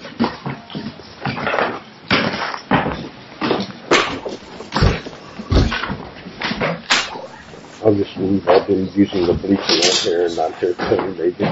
I'm just going to be using the bleacher right here and not turn it on, maybe.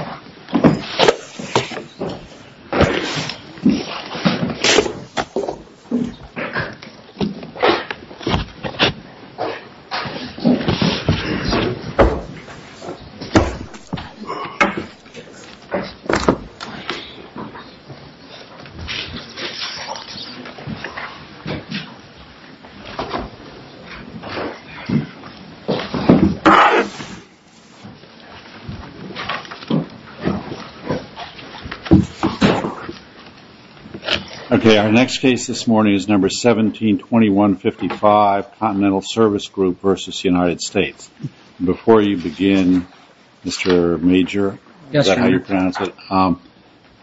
Okay, our next case this morning is No. 172155, Continental Service Group v. United States. Before you begin, Mr. Major,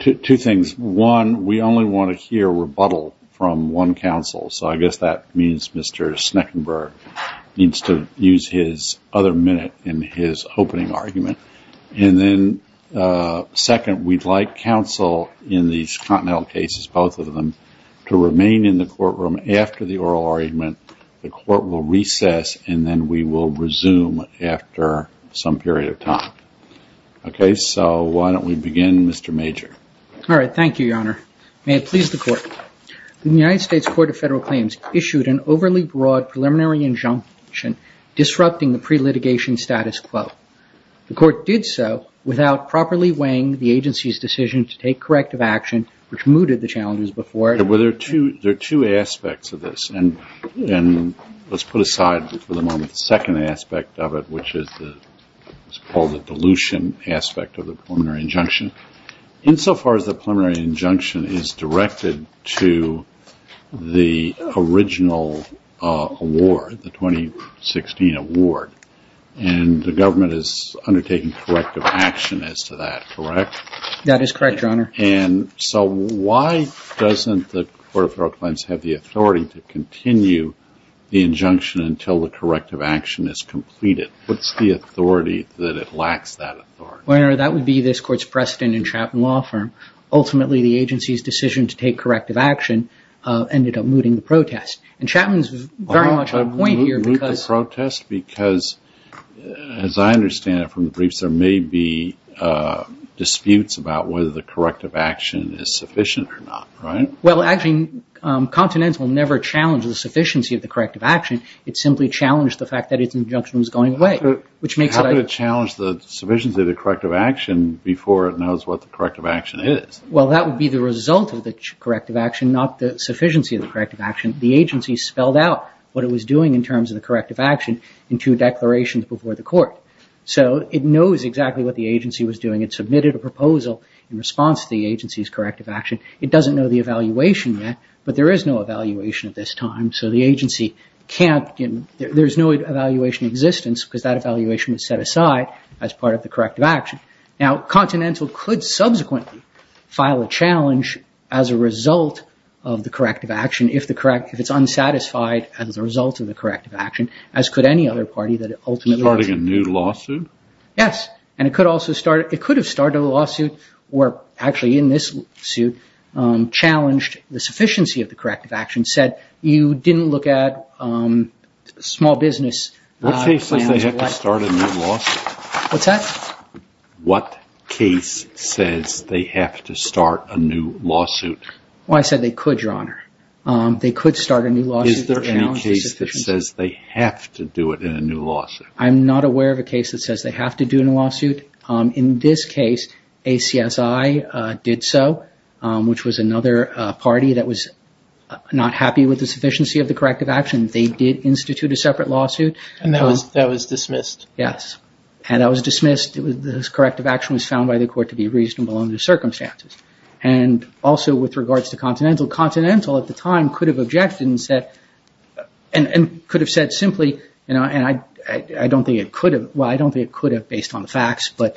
two things. One, we only want to hear rebuttal from one counsel, so I guess that means Mr. Sneckenburg needs to use his other minute in his opening argument. And then, second, we'd like counsel in these Continental cases, both of them, to remain in the courtroom after the oral argument. The court will recess and then we will resume after some period of time. Okay, so why don't we begin, Mr. Major? All right, thank you, Your Honor. May it please the Court. The United States Court of Federal Claims issued an overly broad preliminary injunction disrupting the pre-litigation status quo. The Court did so without properly weighing the agency's decision to take corrective action, which mooted the challenges before it. Well, there are two aspects of this, and let's put aside for the moment the second aspect of it, which is called the dilution aspect of the preliminary injunction. Insofar as the preliminary injunction is directed to the original award, the 2016 award, and the government is undertaking corrective action as to that, correct? That is correct, Your Honor. And so why doesn't the Court of Federal Claims have the authority to continue the injunction until the corrective action is completed? What's the authority that it lacks that authority? Well, Your Honor, that would be this Court's precedent in Chapman Law Firm. Ultimately, the agency's decision to take corrective action ended up mooting the protest. And Chapman's very much on point here because… Moot the protest because, as I understand it from the briefs, there may be disputes about whether the corrective action is sufficient or not, right? Well, actually, Continental never challenged the sufficiency of the corrective action. It simply challenged the fact that its injunction was going away, which makes it… Why would it challenge the sufficiency of the corrective action before it knows what the corrective action is? Well, that would be the result of the corrective action, not the sufficiency of the corrective action. The agency spelled out what it was doing in terms of the corrective action in two declarations before the Court. So it knows exactly what the agency was doing. It submitted a proposal in response to the agency's corrective action. It doesn't know the evaluation yet, but there is no evaluation at this time. So the agency can't… There's no evaluation in existence because that evaluation was set aside as part of the corrective action. Now, Continental could subsequently file a challenge as a result of the corrective action if it's unsatisfied as a result of the corrective action, as could any other party that ultimately… Starting a new lawsuit? Yes, and it could also start… It could have started a lawsuit where actually in this suit challenged the sufficiency of the corrective action, said you didn't look at small business… What case says they have to start a new lawsuit? What's that? What case says they have to start a new lawsuit? Well, I said they could, Your Honour. They could start a new lawsuit… Is there any case that says they have to do it in a new lawsuit? I'm not aware of a case that says they have to do a new lawsuit. In this case, ACSI did so, which was another party that was not happy with the sufficiency of the corrective action. They did institute a separate lawsuit. And that was dismissed? Yes, and that was dismissed. The corrective action was found by the court to be reasonable under the circumstances. And also with regards to Continental, Continental at the time could have objected and said, and could have said simply, and I don't think it could have, well, I don't think it could have based on the facts, but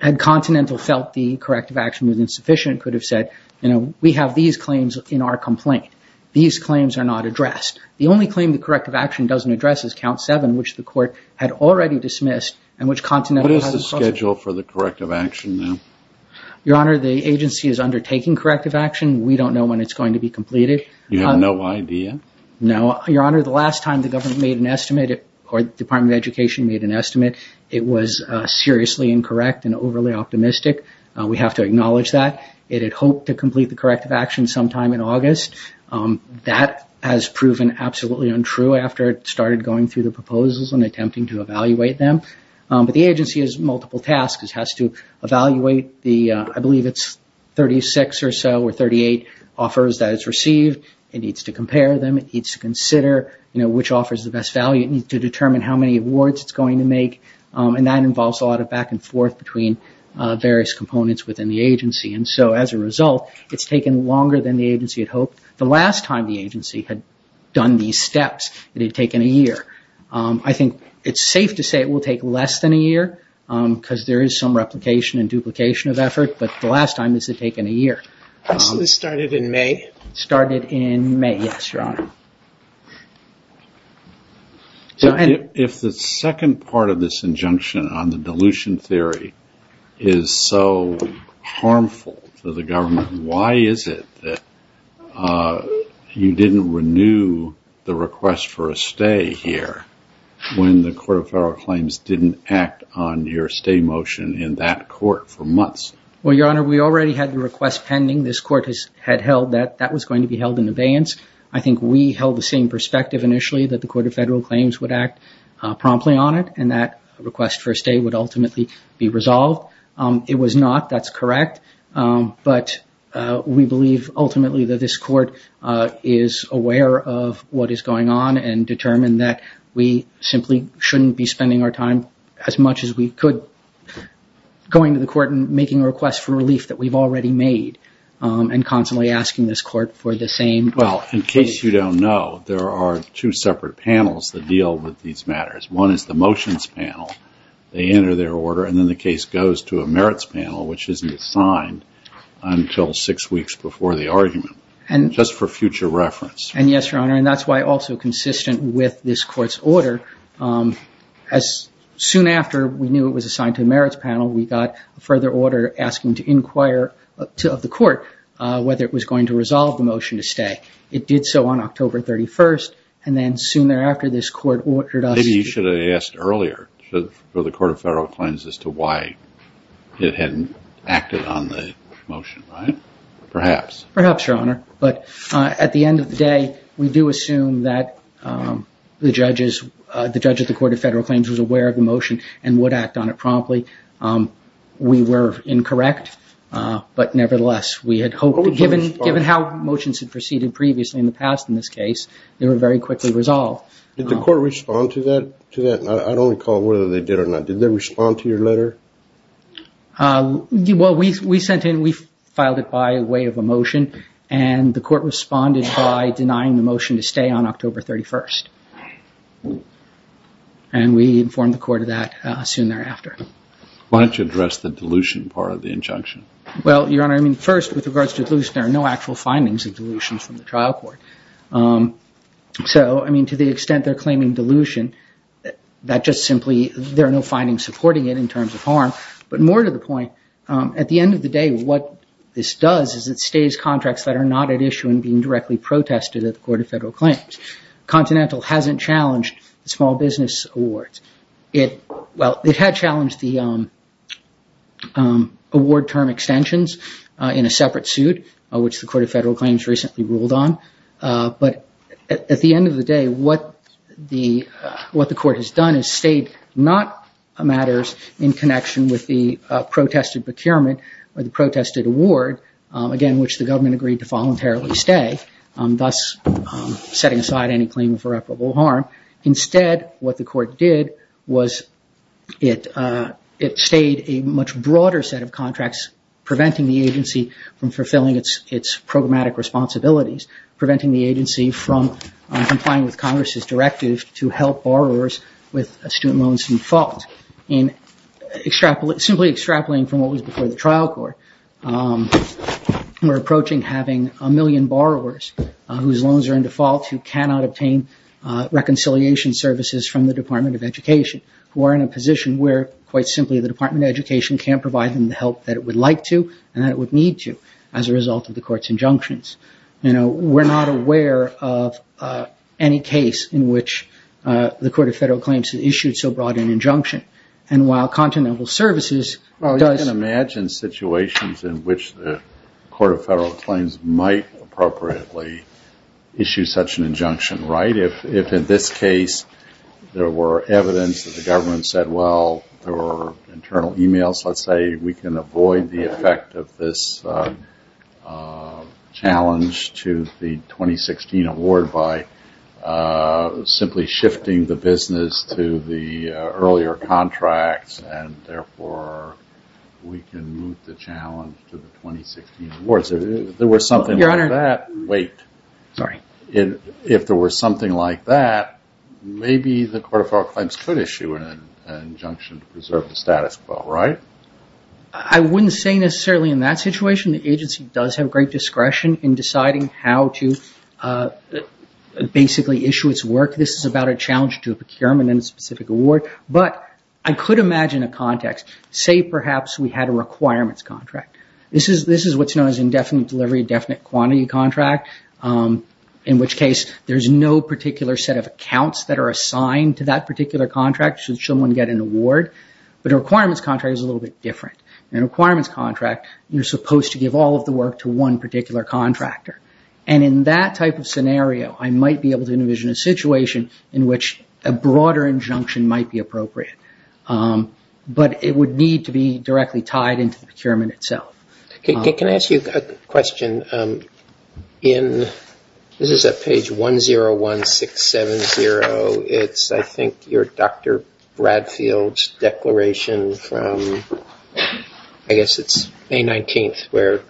had Continental felt the corrective action was insufficient, could have said, you know, we have these claims in our complaint. These claims are not addressed. The only claim the corrective action doesn't address is Count 7, which the court had already dismissed and which Continental… What is the schedule for the corrective action now? Your Honor, the agency is undertaking corrective action. We don't know when it's going to be completed. You have no idea? No. Your Honor, the last time the government made an estimate or the Department of Education made an estimate, it was seriously incorrect and overly optimistic. We have to acknowledge that. It had hoped to complete the corrective action sometime in August. That has proven absolutely untrue after it started going through the proposals and attempting to evaluate them. But the agency has multiple tasks. It has to evaluate the, I believe it's 36 or so or 38 offers that it's received. It needs to compare them. It needs to consider, you know, which offers the best value. It needs to determine how many awards it's going to make and that involves a lot of back and forth between various components within the agency. And so as a result, it's taken longer than the agency had hoped. The last time the agency had done these steps, it had taken a year. I think it's safe to say it will take less than a year because there is some replication and duplication of effort. But the last time this had taken a year. This was started in May? If the second part of this injunction on the dilution theory is so harmful to the government, why is it that you didn't renew the request for a stay here when the Court of Federal Claims didn't act on your stay motion in that court for months? Well, Your Honor, we already had the request pending. This court had held that that was going to be held in abeyance. I think we held the same perspective initially that the Court of Federal Claims would act promptly on it and that request for a stay would ultimately be resolved. It was not. That's correct. But we believe ultimately that this court is aware of what is going on and determined that we simply shouldn't be spending our time as much as we could going to the court and making a request for relief that we've already made and constantly asking this court for the same. Well, in case you don't know, there are two separate panels that deal with these matters. One is the motions panel. They enter their order, and then the case goes to a merits panel, which isn't assigned until six weeks before the argument, just for future reference. And yes, Your Honor, and that's why also consistent with this court's order, as soon after we knew it was assigned to the merits panel, we got a further order asking to inquire of the court whether it was going to resolve the motion to stay. It did so on October 31st, and then sooner after this court ordered us to- Maybe you should have asked earlier for the Court of Federal Claims as to why it hadn't acted on the motion, right? Perhaps. Perhaps, Your Honor. But at the end of the day, we do assume that the judge at the Court of Federal Claims was aware of the motion and would act on it promptly. We were incorrect, but nevertheless, we had hoped- Given how motions had proceeded previously in the past in this case, they were very quickly resolved. Did the court respond to that? I don't recall whether they did or not. Did they respond to your letter? Well, we sent in- we filed it by way of a motion, and the court responded by denying the motion to stay on October 31st. And we informed the court of that soon thereafter. Why don't you address the dilution part of the injunction? Well, Your Honor, I mean, first, with regards to dilution, there are no actual findings of dilution from the trial court. So, I mean, to the extent they're claiming dilution, that just simply- there are no findings supporting it in terms of harm. But more to the point, at the end of the day, what this does is it stays contracts that are not at issue and being directly protested at the Court of Federal Claims. Continental hasn't challenged the small business awards. It- well, it had challenged the award term extensions in a separate suit, which the Court of Federal Claims recently ruled on. But at the end of the day, what the court has done is stayed not matters in connection with the protested procurement or the protested award, again, which the government agreed to voluntarily stay, thus setting aside any claim of irreparable harm. Instead, what the court did was it stayed a much broader set of contracts, preventing the agency from fulfilling its programmatic responsibilities, preventing the agency from complying with Congress's directive to help borrowers with student loans default. Simply extrapolating from what was before the trial court, we're approaching having a million borrowers whose loans are in default who cannot obtain reconciliation services from the Department of Education, who are in a position where, quite simply, the Department of Education can't provide them the help that it would like to and that it would need to as a result of the court's injunctions. We're not aware of any case in which the Court of Federal Claims has issued so broad an injunction. And while Continental Services does... Well, you can imagine situations in which the Court of Federal Claims might appropriately issue such an injunction, right? If in this case there were evidence that the government said, well, there were internal emails, let's say we can avoid the effect of this challenge to the 2016 award by simply shifting the business to the earlier contracts and therefore we can move the challenge to the 2016 awards. If there were something like that... Your Honor... Wait. Sorry. If there were something like that, maybe the Court of Federal Claims could issue an injunction to preserve the status quo, right? I wouldn't say necessarily in that situation. The agency does have great discretion in deciding how to basically issue its work. This is about a challenge to a procurement and a specific award. But I could imagine a context. Say perhaps we had a requirements contract. This is what's known as indefinite delivery, definite quantity contract, in which case there's no particular set of accounts that are assigned to that particular contract should someone get an award. But a requirements contract is a little bit different. In a requirements contract, you're supposed to give all of the work to one particular contractor. And in that type of scenario, I might be able to envision a situation in which a broader injunction might be appropriate. But it would need to be directly tied into the procurement itself. Can I ask you a question? This is at page 101670. It's, I think, your Dr. Bradfield's declaration from, I guess it's May 19th, where you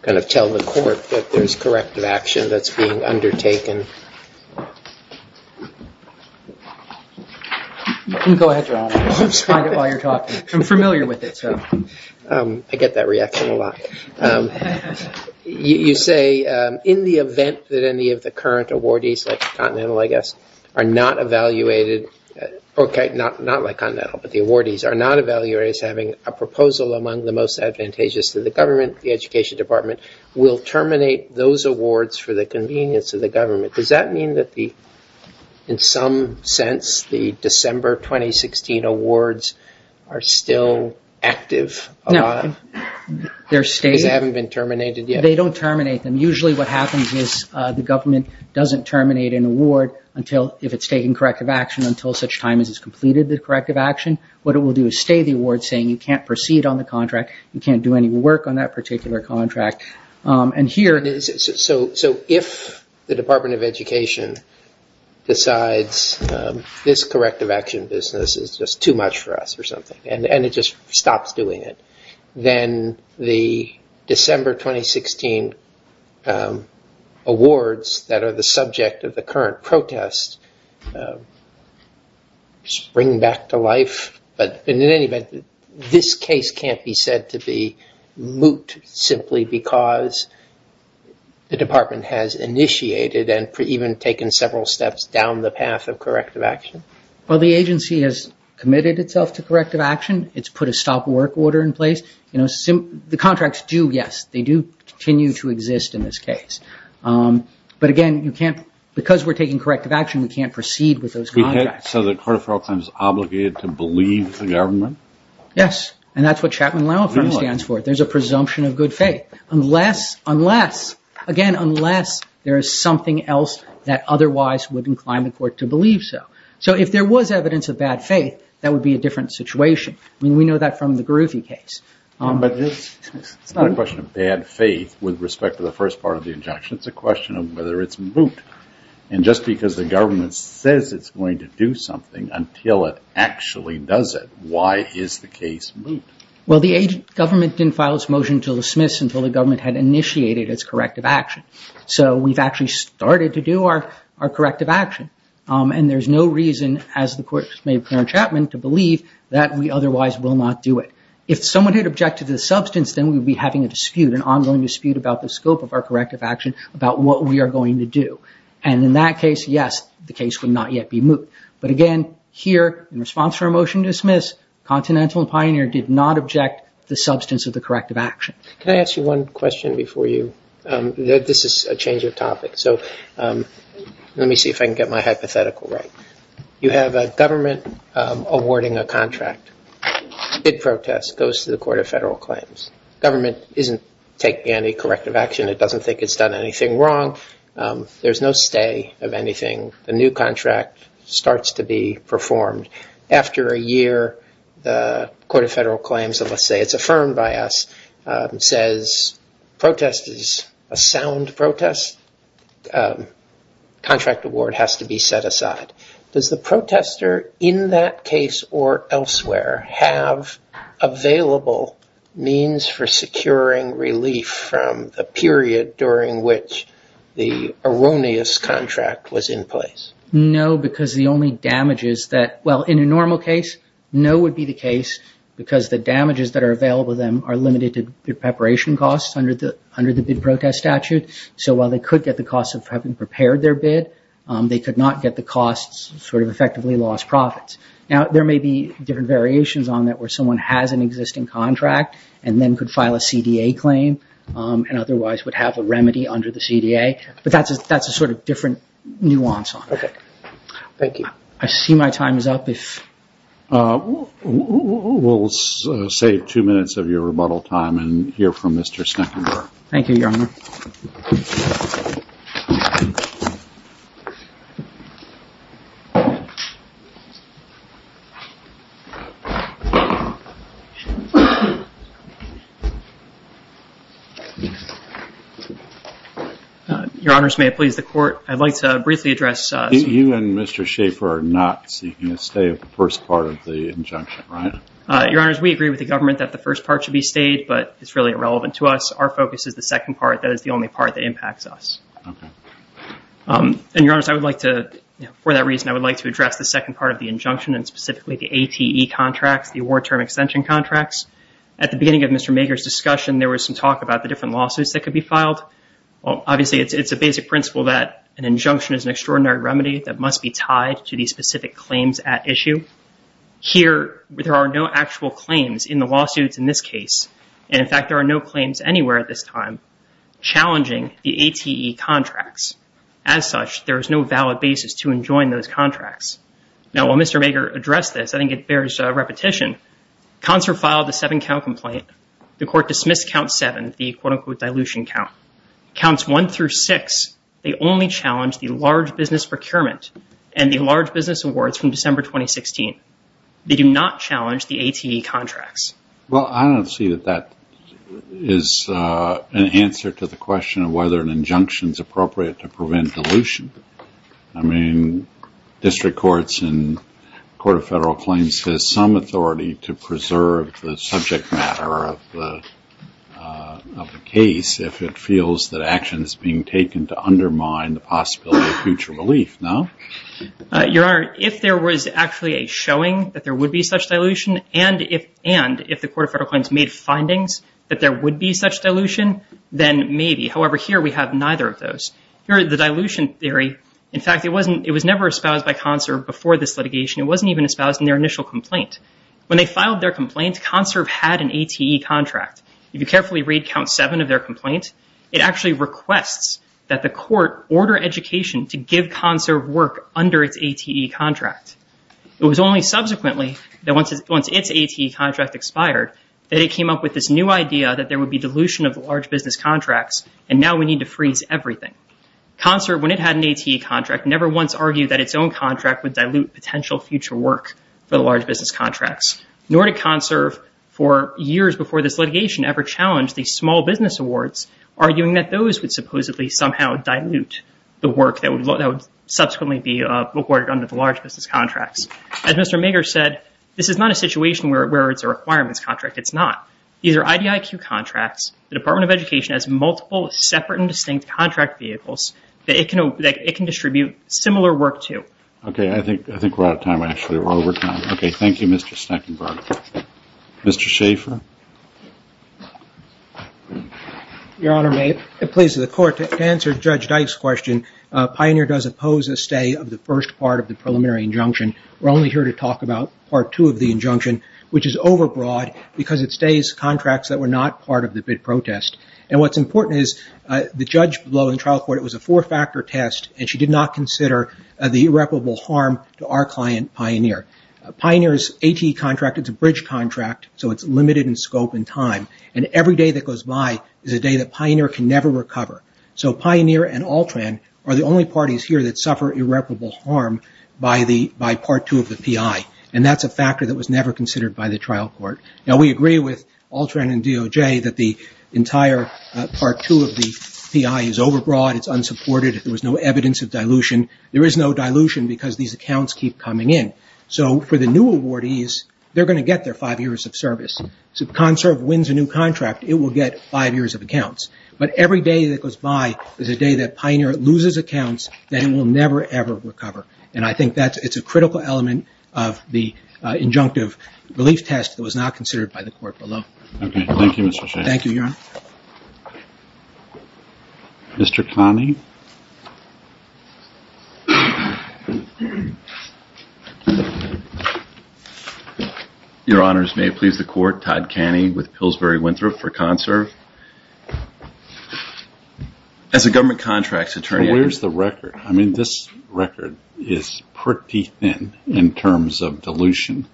kind of tell the court that there's corrective action that's being undertaken. Go ahead, John. I'm familiar with it. I get that reaction a lot. You say, in the event that any of the current awardees, like Continental, I guess, are not evaluated, okay, not like Continental, but the awardees, are not evaluated as having a proposal among the most advantageous to the government, the Education Department, will terminate those awards for the convenience of the government. Does that mean that, in some sense, the December 2016 awards are still active? No, they're staying. Because they haven't been terminated yet? They don't terminate them. Usually what happens is the government doesn't terminate an award if it's taking corrective action until such time as it's completed the corrective action. What it will do is stay the award, saying you can't proceed on the contract, you can't do any work on that particular contract. If the Department of Education decides this corrective action business is just too much for us or something, and it just stops doing it, then the December 2016 awards that are the subject of the current protest spring back to life. In any event, this case can't be said to be moot simply because the department has initiated and even taken several steps down the path of corrective action? Well, the agency has committed itself to corrective action. It's put a stop work order in place. The contracts do, yes, they do continue to exist in this case. But again, because we're taking corrective action, we can't proceed with those contracts. So the court of federal claims is obligated to believe the government? Yes, and that's what Chapman Law Firm stands for. There's a presumption of good faith unless, again, unless there is something else that otherwise would incline the court to believe so. So if there was evidence of bad faith, that would be a different situation. We know that from the Garufi case. But it's not a question of bad faith with respect to the first part of the injunction. It's a question of whether it's moot. And just because the government says it's going to do something until it actually does it, why is the case moot? Well, the government didn't file its motion to dismiss until the government had initiated its corrective action. So we've actually started to do our corrective action. And there's no reason, as the court made clear in Chapman, to believe that we otherwise will not do it. If someone had objected to the substance, then we'd be having a dispute, an ongoing dispute about the scope of our corrective action, about what we are going to do. And in that case, yes, the case would not yet be moot. But again, here, in response to our motion to dismiss, Continental and Pioneer did not object to the substance of the corrective action. Can I ask you one question before you? This is a change of topic. So let me see if I can get my hypothetical right. You have a government awarding a contract. It protests, goes to the Court of Federal Claims. Government isn't taking any corrective action. It doesn't think it's done anything wrong. There's no stay of anything. The new contract starts to be performed. After a year, the Court of Federal Claims, let's say it's affirmed by us, says protest is a sound protest. Contract award has to be set aside. Does the protester, in that case or elsewhere, have available means for securing relief from the period during which the erroneous contract was in place? No, because the only damages that, well, in a normal case, no would be the case because the damages that are available to them are limited to preparation costs under the bid protest statute. So while they could get the costs of having prepared their bid, they could not get the costs, sort of effectively lost profits. Now, there may be different variations on that where someone has an existing contract and then could file a CDA claim and otherwise would have a remedy under the CDA, but that's a sort of different nuance on it. Okay. Thank you. I see my time is up. We'll save two minutes of your rebuttal time and hear from Mr. Sneckenburg. Thank you, Your Honor. Your Honors, may it please the Court, I'd like to briefly address… You and Mr. Schaffer are not seeking a stay of the first part of the injunction, right? Your Honors, we agree with the government that the first part should be stayed, but it's really irrelevant to us. Our focus is the second part. That is the only part that impacts us. Okay. And, Your Honors, I would like to, for that reason, I would like to address the second part of the injunction. And specifically, the ATE contracts, the award term extension contracts. At the beginning of Mr. Mager's discussion, there was some talk about the different lawsuits that could be filed. Obviously, it's a basic principle that an injunction is an extraordinary remedy that must be tied to the specific claims at issue. Here, there are no actual claims in the lawsuits in this case. And, in fact, there are no claims anywhere at this time challenging the ATE contracts. As such, there is no valid basis to enjoin those contracts. Now, while Mr. Mager addressed this, I think it bears repetition. Concert filed the seven-count complaint. The court dismissed count seven, the quote-unquote dilution count. Counts one through six, they only challenge the large business procurement and the large business awards from December 2016. They do not challenge the ATE contracts. Well, I don't see that that is an answer to the question of whether an injunction is appropriate to prevent dilution. I mean, district courts and the Court of Federal Claims has some authority to preserve the subject matter of the case if it feels that action is being taken to undermine the possibility of future relief, no? Your Honor, if there was actually a showing that there would be such dilution and if the Court of Federal Claims made findings that there would be such dilution, However, here we have neither of those. Here, the dilution theory, in fact, it was never espoused by CONSERV before this litigation. It wasn't even espoused in their initial complaint. When they filed their complaint, CONSERV had an ATE contract. If you carefully read count seven of their complaint, it actually requests that the court order education to give CONSERV work under its ATE contract. It was only subsequently that once its ATE contract expired, that it came up with this new idea that there would be dilution of large business contracts and now we need to freeze everything. CONSERV, when it had an ATE contract, never once argued that its own contract would dilute potential future work for the large business contracts. Nor did CONSERV, for years before this litigation, ever challenge these small business awards, arguing that those would supposedly somehow dilute the work that would subsequently be awarded under the large business contracts. As Mr. Mager said, this is not a situation where it's a requirements contract. It's not. These are IDIQ contracts. The Department of Education has multiple separate and distinct contract vehicles that it can distribute similar work to. Okay, I think we're out of time, actually. We're over time. Okay, thank you, Mr. Steckenberg. Mr. Schaefer? Your Honor, may it please the Court, to answer Judge Dyke's question, Pioneer does oppose a stay of the first part of the preliminary injunction. We're only here to talk about part two of the injunction, which is overbroad because it stays contracts that were not part of the bid protest. And what's important is the judge blowing trial court, it was a four-factor test, and she did not consider the irreparable harm to our client, Pioneer. Pioneer's AT contract, it's a bridge contract, so it's limited in scope and time. And every day that goes by is a day that Pioneer can never recover. So Pioneer and Altran are the only parties here that suffer irreparable harm by part two of the PI, and that's a factor that was never considered by the trial court. Now, we agree with Altran and DOJ that the entire part two of the PI is overbroad, it's unsupported, there was no evidence of dilution. There is no dilution because these accounts keep coming in. So for the new awardees, they're going to get their five years of service. So if Conserve wins a new contract, it will get five years of accounts. But every day that goes by is a day that Pioneer loses accounts that it will never, ever recover. And I think it's a critical element of the injunctive relief test that was not considered by the court below. Okay. Thank you, Mr. Shaffer. Thank you, Your Honor. Mr. Connie. Your Honors, may it please the Court, Todd Connie with Pillsbury Winthrop for Conserve. As a government contracts attorney – I mean, this record is pretty thin in terms of dilution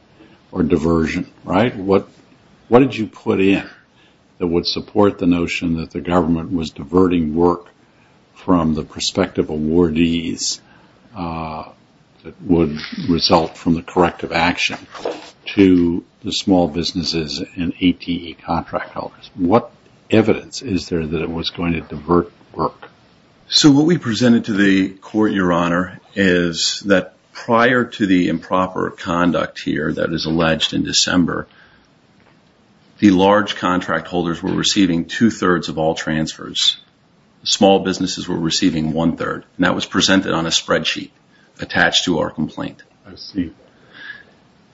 or diversion, right? What did you put in that would support the notion that the government was diverting work from the prospective awardees that would result from the corrective action to the small businesses and ATE contract holders? What evidence is there that it was going to divert work? So what we presented to the court, Your Honor, is that prior to the improper conduct here that is alleged in December, the large contract holders were receiving two-thirds of all transfers. Small businesses were receiving one-third. And that was presented on a spreadsheet attached to our complaint. I see.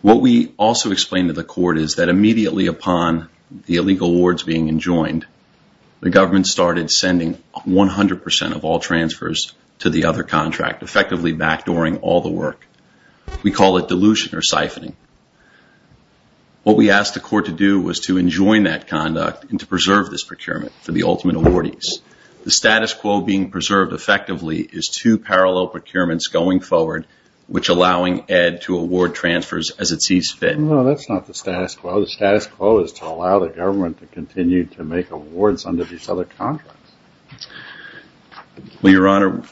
What we also explained to the court is that immediately upon the illegal awards being enjoined, the government started sending 100 percent of all transfers to the other contract, effectively backdooring all the work. We call it dilution or siphoning. What we asked the court to do was to enjoin that conduct and to preserve this procurement for the ultimate awardees. The status quo being preserved effectively is two parallel procurements going forward, which allowing Ed to award transfers as it sees fit. No, that's not the status quo. The status quo is to allow the government to continue to make awards under these other contracts. Well, Your Honor,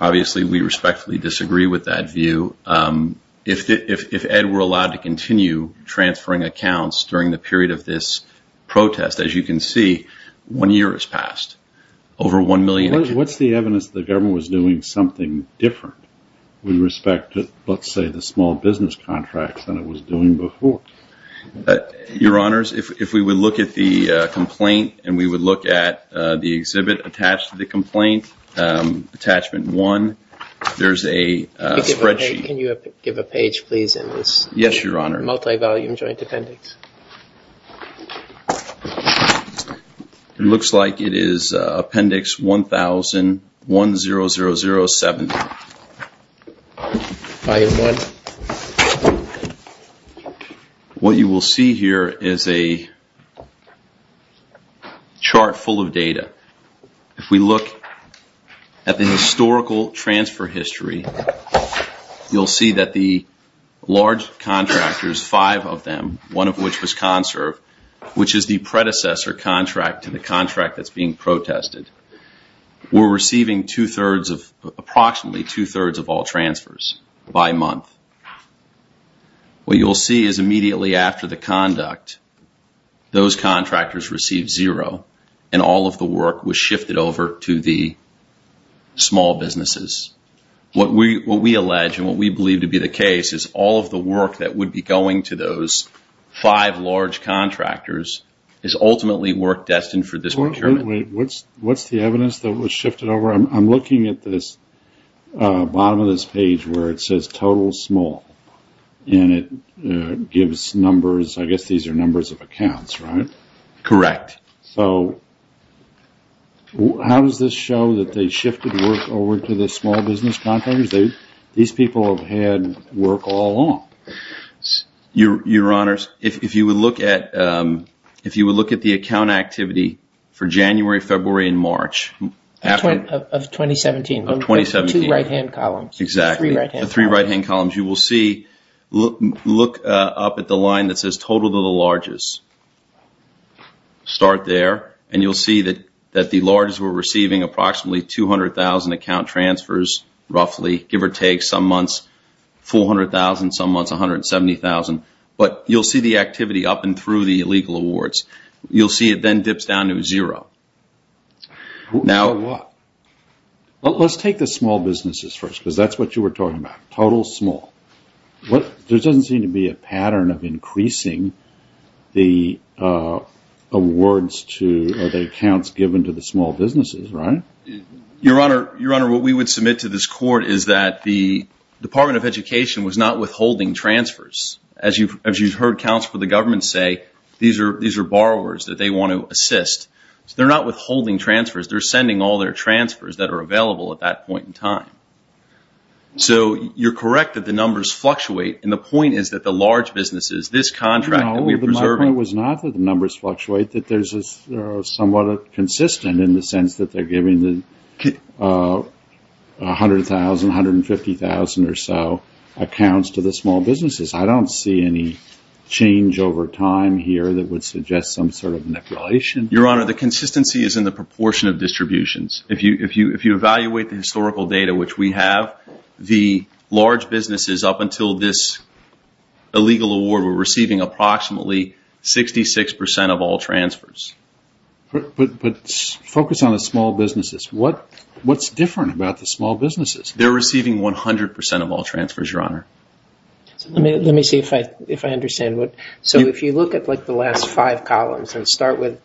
obviously we respectfully disagree with that view. If Ed were allowed to continue transferring accounts during the period of this protest, as you can see, one year has passed. What's the evidence that the government was doing something different with respect to, let's say, the small business contracts than it was doing before? Your Honors, if we would look at the complaint and we would look at the exhibit attached to the complaint, Attachment 1, there's a spreadsheet. Can you give a page, please, in this? Yes, Your Honor. Multi-volume joint appendix. It looks like it is Appendix 1000-10007. What you will see here is a chart full of data. If we look at the historical transfer history, you'll see that the large contractors, five of them, one of which was Conserve, which is the predecessor contract to the contract that's being protested, were receiving approximately two-thirds of all transfers by month. What you'll see is immediately after the conduct, those contractors received zero, and all of the work was shifted over to the small businesses. What we allege and what we believe to be the case is all of the work that would be going to those five large contractors is ultimately work destined for this procurement. What's the evidence that was shifted over? I'm looking at the bottom of this page where it says total small, and it gives numbers. I guess these are numbers of accounts, right? Correct. How does this show that they shifted work over to the small business contractors? These people have had work all along. Your Honors, if you would look at the account activity for January, February, and March of 2017. Of 2017. Two right-hand columns. Exactly. Three right-hand columns. You will see, look up at the line that says total to the largest. Start there, and you'll see that the largest were receiving approximately 200,000 account transfers roughly, give or take, some months 400,000, some months 170,000. But you'll see the activity up and through the legal awards. You'll see it then dips down to zero. For what? Let's take the small businesses first because that's what you were talking about. Total small. There doesn't seem to be a pattern of increasing the awards to the accounts given to the small businesses, right? Your Honor, what we would submit to this court is that the Department of Education was not withholding transfers. As you've heard counsel for the government say, these are borrowers that they want to assist. They're not withholding transfers. They're sending all their transfers that are available at that point in time. So you're correct that the numbers fluctuate, and the point is that the large businesses, this contract that we're preserving. No, but my point was not that the numbers fluctuate, that they're somewhat consistent in the sense that they're giving 100,000, 150,000 or so accounts to the small businesses. I don't see any change over time here that would suggest some sort of manipulation. Your Honor, the consistency is in the proportion of distributions. If you evaluate the historical data, which we have, the large businesses up until this illegal award were receiving approximately 66% of all transfers. But focus on the small businesses. What's different about the small businesses? They're receiving 100% of all transfers, Your Honor. Let me see if I understand. So if you look at the last five columns and start with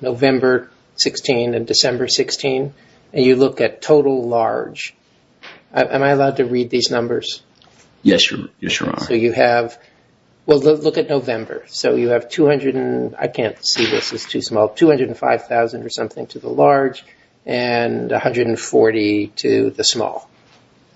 November 16 and December 16, and you look at total large. Am I allowed to read these numbers? Yes, Your Honor. So you have – well, look at November. So you have 200 – I can't see this, it's too small – 205,000 or something to the large and 140 to the small.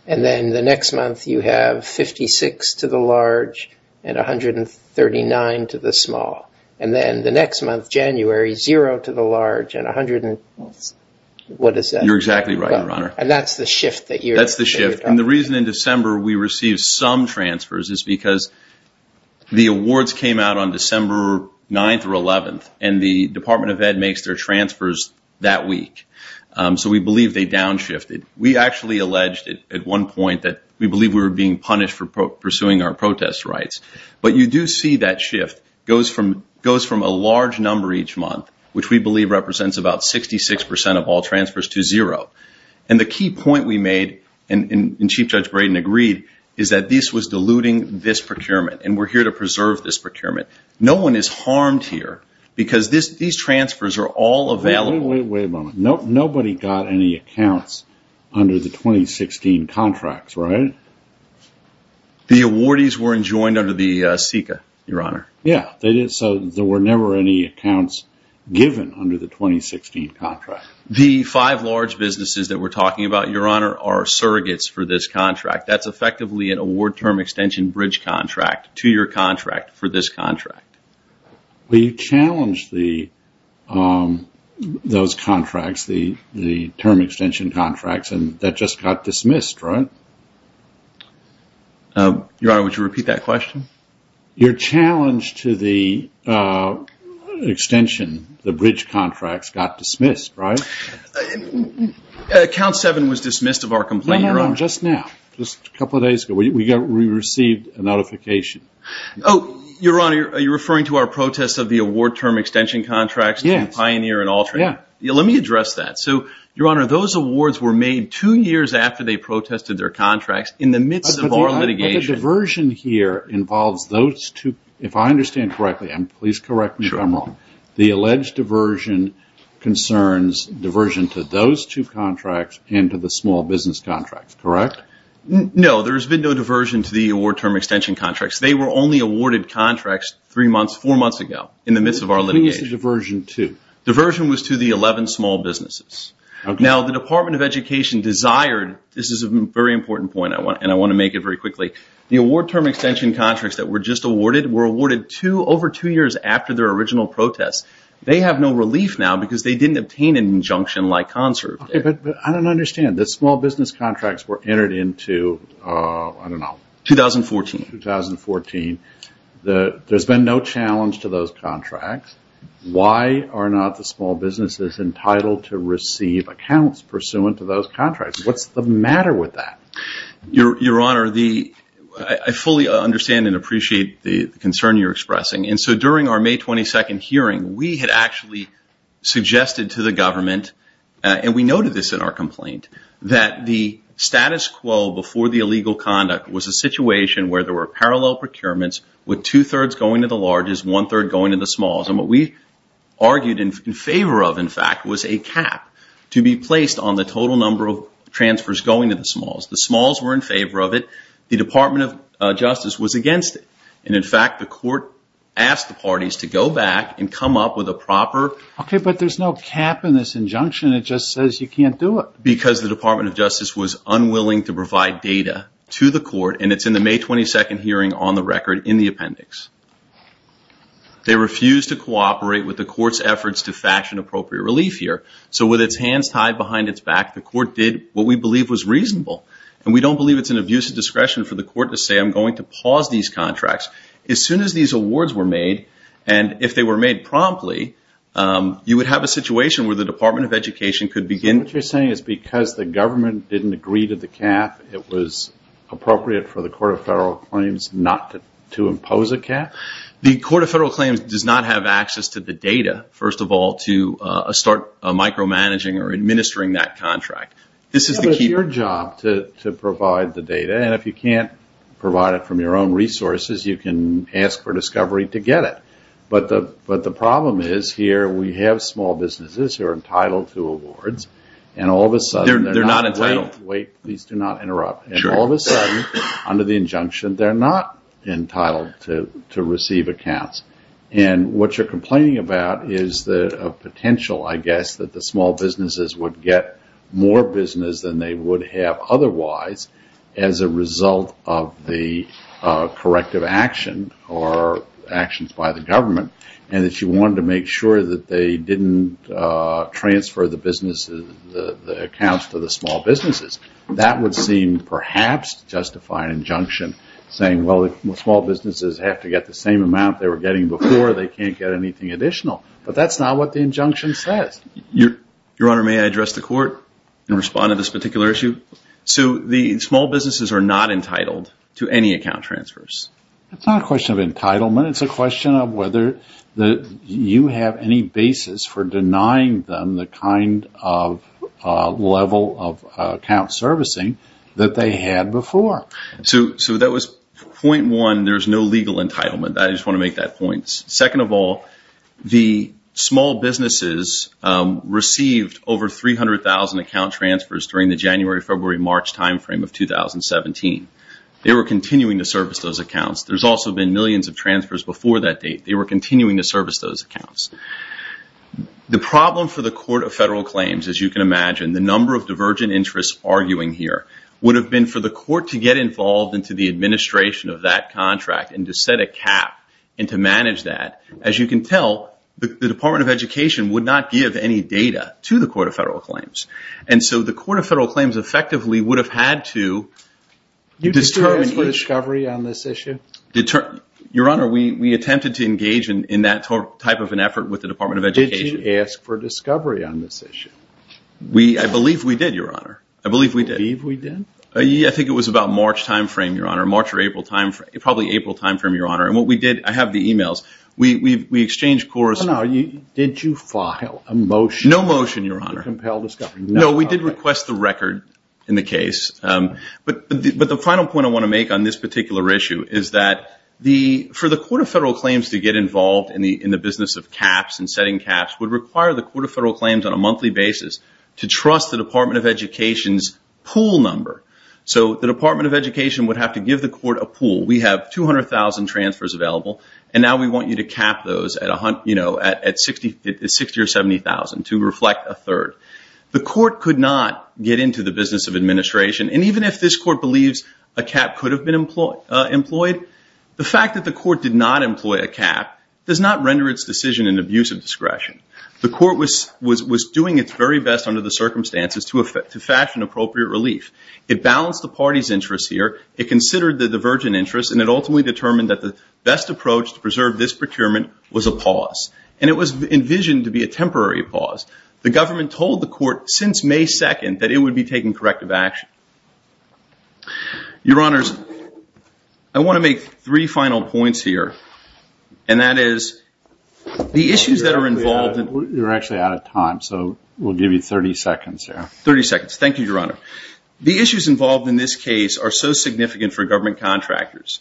And then the next month you have 56 to the large and 139 to the small. And then the next month, January, zero to the large and 100 – what is that? You're exactly right, Your Honor. And that's the shift that you're – That's the shift. And the reason in December we received some transfers is because the awards came out on December 9th or 11th, and the Department of Ed makes their transfers that week. So we believe they downshifted. We actually alleged at one point that we believe we were being punished for pursuing our protest rights. But you do see that shift goes from a large number each month, which we believe represents about 66% of all transfers to zero. And the key point we made, and Chief Judge Braden agreed, is that this was diluting this procurement, and we're here to preserve this procurement. No one is harmed here because these transfers are all available. Wait a moment. Nobody got any accounts under the 2016 contracts, right? The awardees were enjoined under the SECA, Your Honor. Yeah. So there were never any accounts given under the 2016 contract. The five large businesses that we're talking about, Your Honor, are surrogates for this contract. That's effectively an award term extension bridge contract to your contract for this contract. But you challenged those contracts, the term extension contracts, and that just got dismissed, right? Your Honor, would you repeat that question? Your challenge to the extension, the bridge contracts, got dismissed, right? Account seven was dismissed of our complaint, Your Honor. No, no, no, just now, just a couple of days ago. We received a notification. Oh, Your Honor, are you referring to our protests of the award term extension contracts? Yes. Pioneer and alternate. Yeah. Let me address that. So, Your Honor, those awards were made two years after they protested their contracts in the midst of our litigation. But the diversion here involves those two, if I understand correctly, and please correct me if I'm wrong. Sure. The alleged diversion concerns diversion to those two contracts and to the small business contracts, correct? No, there's been no diversion to the award term extension contracts. They were only awarded contracts three months, four months ago, in the midst of our litigation. Please say diversion to. Diversion was to the 11 small businesses. Okay. Now, the Department of Education desired, this is a very important point, and I want to make it very quickly. The award term extension contracts that were just awarded were awarded over two years after their original protests. They have no relief now because they didn't obtain an injunction-like concert. Okay, but I don't understand. The small business contracts were entered into, I don't know. 2014. 2014. There's been no challenge to those contracts. Why are not the small businesses entitled to receive accounts pursuant to those contracts? What's the matter with that? Your Honor, I fully understand and appreciate the concern you're expressing. And so during our May 22nd hearing, we had actually suggested to the government, and we noted this in our complaint, that the status quo before the illegal conduct was a situation where there were parallel procurements with two-thirds going to the largest, one-third going to the smalls. And what we argued in favor of, in fact, was a cap to be placed on the total number of transfers going to the smalls. The smalls were in favor of it. The Department of Justice was against it. And, in fact, the court asked the parties to go back and come up with a proper- Okay, but there's no cap in this injunction. It just says you can't do it. Because the Department of Justice was unwilling to provide data to the court, and it's in the May 22nd hearing on the record in the appendix. They refused to cooperate with the court's efforts to fashion appropriate relief here. So with its hands tied behind its back, the court did what we believe was reasonable. And we don't believe it's an abuse of discretion for the court to say, I'm going to pause these contracts. As soon as these awards were made, and if they were made promptly, you would have a situation where the Department of Education could begin- So what you're saying is because the government didn't agree to the cap, it was appropriate for the Court of Federal Claims not to impose a cap? The Court of Federal Claims does not have access to the data, first of all, to start micromanaging or administering that contract. This is the key- But it's your job to provide the data. And if you can't provide it from your own resources, you can ask for discovery to get it. But the problem is here we have small businesses who are entitled to awards, and all of a sudden- They're not entitled. Wait, please do not interrupt. And all of a sudden, under the injunction, they're not entitled to receive accounts. And what you're complaining about is the potential, I guess, that the small businesses would get more business than they would have otherwise as a result of the corrective action or actions by the government, and that you wanted to make sure that they didn't transfer the accounts to the small businesses. That would seem, perhaps, to justify an injunction saying, well, if small businesses have to get the same amount they were getting before, they can't get anything additional. But that's not what the injunction says. Your Honor, may I address the Court and respond to this particular issue? So the small businesses are not entitled to any account transfers. It's not a question of entitlement. It's a question of whether you have any basis for denying them the kind of level of account servicing that they had before. So that was point one. There's no legal entitlement. I just want to make that point. Second of all, the small businesses received over 300,000 account transfers during the January, February, March time frame of 2017. They were continuing to service those accounts. There's also been millions of transfers before that date. They were continuing to service those accounts. The problem for the Court of Federal Claims, as you can imagine, the number of divergent interests arguing here, would have been for the Court to get involved into the administration of that contract and to set a cap and to manage that. As you can tell, the Department of Education would not give any data to the Court of Federal Claims. And so the Court of Federal Claims effectively would have had to determine which— Did you ask for discovery on this issue? Your Honor, we attempted to engage in that type of an effort with the Department of Education. Did you ask for discovery on this issue? I believe we did, Your Honor. I believe we did. You believe we did? I think it was about March time frame, Your Honor. March or April time frame. Probably April time frame, Your Honor. And what we did—I have the emails. We exchanged correspondence. Did you file a motion to compel discovery? No motion, Your Honor. No, we did request the record in the case. But the final point I want to make on this particular issue is that for the Court of Federal Claims to get involved in the business of caps and setting caps would require the Court of Federal Claims on a monthly basis to trust the Department of Education's pool number. So the Department of Education would have to give the Court a pool. We have 200,000 transfers available, and now we want you to cap those at 60 or 70,000 to reflect a third. The Court could not get into the business of administration. And even if this Court believes a cap could have been employed, the fact that the Court did not employ a cap does not render its decision an abuse of discretion. The Court was doing its very best under the circumstances to fashion appropriate relief. It balanced the party's interests here, it considered the divergent interests, and it ultimately determined that the best approach to preserve this procurement was a pause. And it was envisioned to be a temporary pause. The government told the Court since May 2nd that it would be taking corrective action. Your Honors, I want to make three final points here, and that is the issues that are involved in— You're actually out of time, so we'll give you 30 seconds here. 30 seconds. Thank you, Your Honor. The issues involved in this case are so significant for government contractors.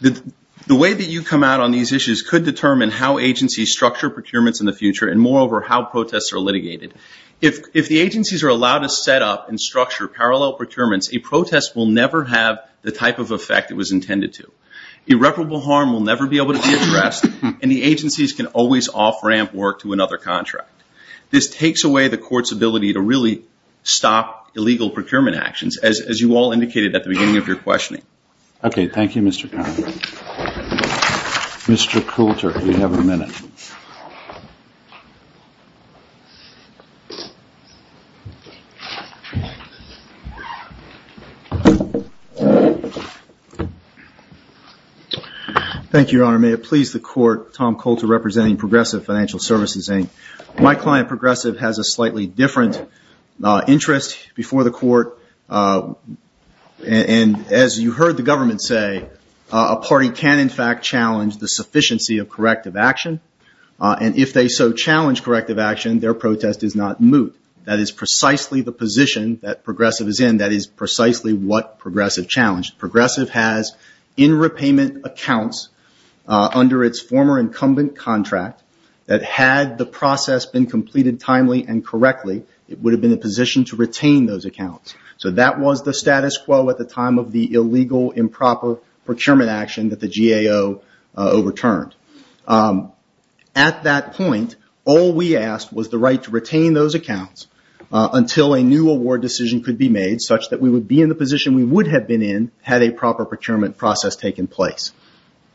The way that you come out on these issues could determine how agencies structure procurements in the future, and moreover, how protests are litigated. If the agencies are allowed to set up and structure parallel procurements, a protest will never have the type of effect it was intended to. Irreparable harm will never be able to be addressed, and the agencies can always off-ramp work to another contract. This takes away the Court's ability to really stop illegal procurement actions, as you all indicated at the beginning of your questioning. Okay. Thank you, Mr. Connery. Mr. Coulter, you have a minute. Thank you, Your Honor. May it please the Court, Tom Coulter representing Progressive Financial Services, Inc. My client, Progressive, has a slightly different interest before the Court, and as you heard the government say, a party can in fact challenge the sufficiency of corrective action, and if they so challenge corrective action, their protest is not moot. That is precisely the position that Progressive is in. That is precisely what Progressive challenged. Progressive has in repayment accounts under its former incumbent contract that had the process been completed timely and correctly, it would have been in a position to retain those accounts. So that was the status quo at the time of the illegal improper procurement action that the GAO overturned. At that point, all we asked was the right to retain those accounts until a new award decision could be made, such that we would be in the position we would have been in had a proper procurement process taken place.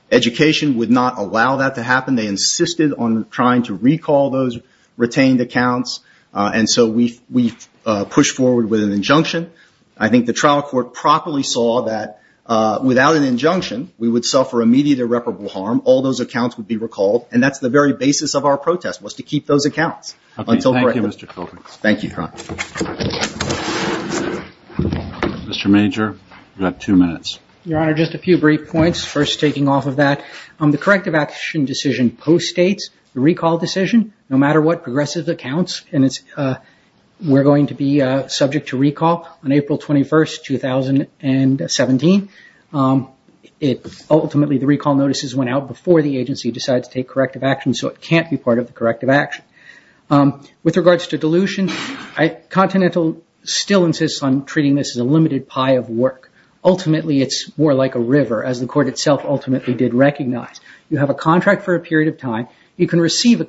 Education would not allow that to happen. They insisted on trying to recall those retained accounts, and so we pushed forward with an injunction. I think the trial court properly saw that without an injunction, we would suffer immediate irreparable harm. All those accounts would be recalled, and that's the very basis of our protest, was to keep those accounts. Thank you, Mr. Colvin. Thank you, Your Honor. Mr. Major, you have two minutes. Your Honor, just a few brief points, first taking off of that. The corrective action decision post-states the recall decision. No matter what Progressive accounts, we're going to be subject to recall on April 21, 2017. Ultimately, the recall notices went out before the agency decided to take corrective action, so it can't be part of the corrective action. With regards to dilution, Continental still insists on treating this as a limited pie of work. Ultimately, it's more like a river, as the court itself ultimately did recognize. You have a contract for a period of time. You can receive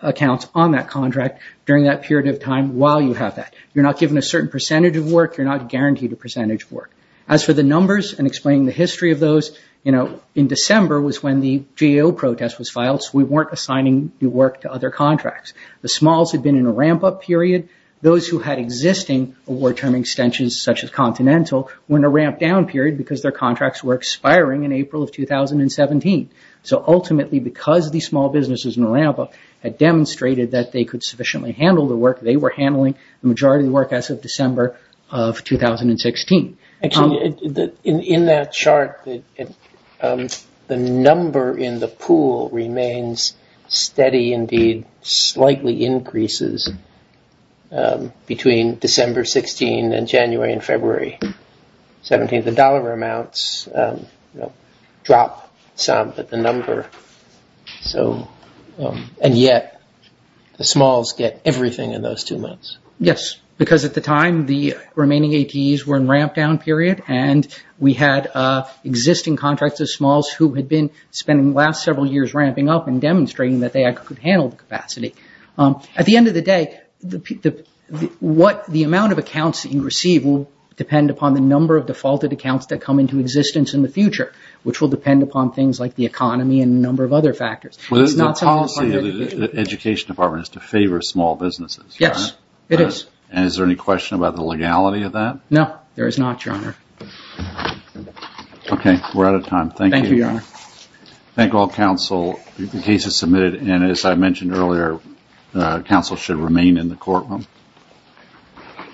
accounts on that contract during that period of time while you have that. You're not given a certain percentage of work. You're not guaranteed a percentage of work. As for the numbers and explaining the history of those, in December was when the GAO protest was filed, so we weren't assigning new work to other contracts. The smalls had been in a ramp-up period. Those who had existing award-term extensions, such as Continental, were in a ramp-down period because their contracts were expiring in April of 2017. Ultimately, because these small businesses in a ramp-up had demonstrated that they could sufficiently handle the work, they were handling the majority of the work as of December of 2016. In that chart, the number in the pool remains steady indeed, slightly increases between December 16 and January and February 17. The dollar amounts drop some, but the number, and yet the smalls get everything in those two months. Yes, because at the time, the remaining ATEs were in ramp-down period, and we had existing contracts of smalls who had been spending the last several years ramping up and demonstrating that they could handle the capacity. At the end of the day, the amount of accounts that you receive will depend upon the number of defaulted accounts that come into existence in the future, which will depend upon things like the economy and a number of other factors. The policy of the Education Department is to favor small businesses, correct? Yes, it is. And is there any question about the legality of that? No, there is not, Your Honor. Okay, we're out of time. Thank you. Thank you, Your Honor. Thank all counsel. The case is submitted, and as I mentioned earlier, counsel should remain in the courtroom.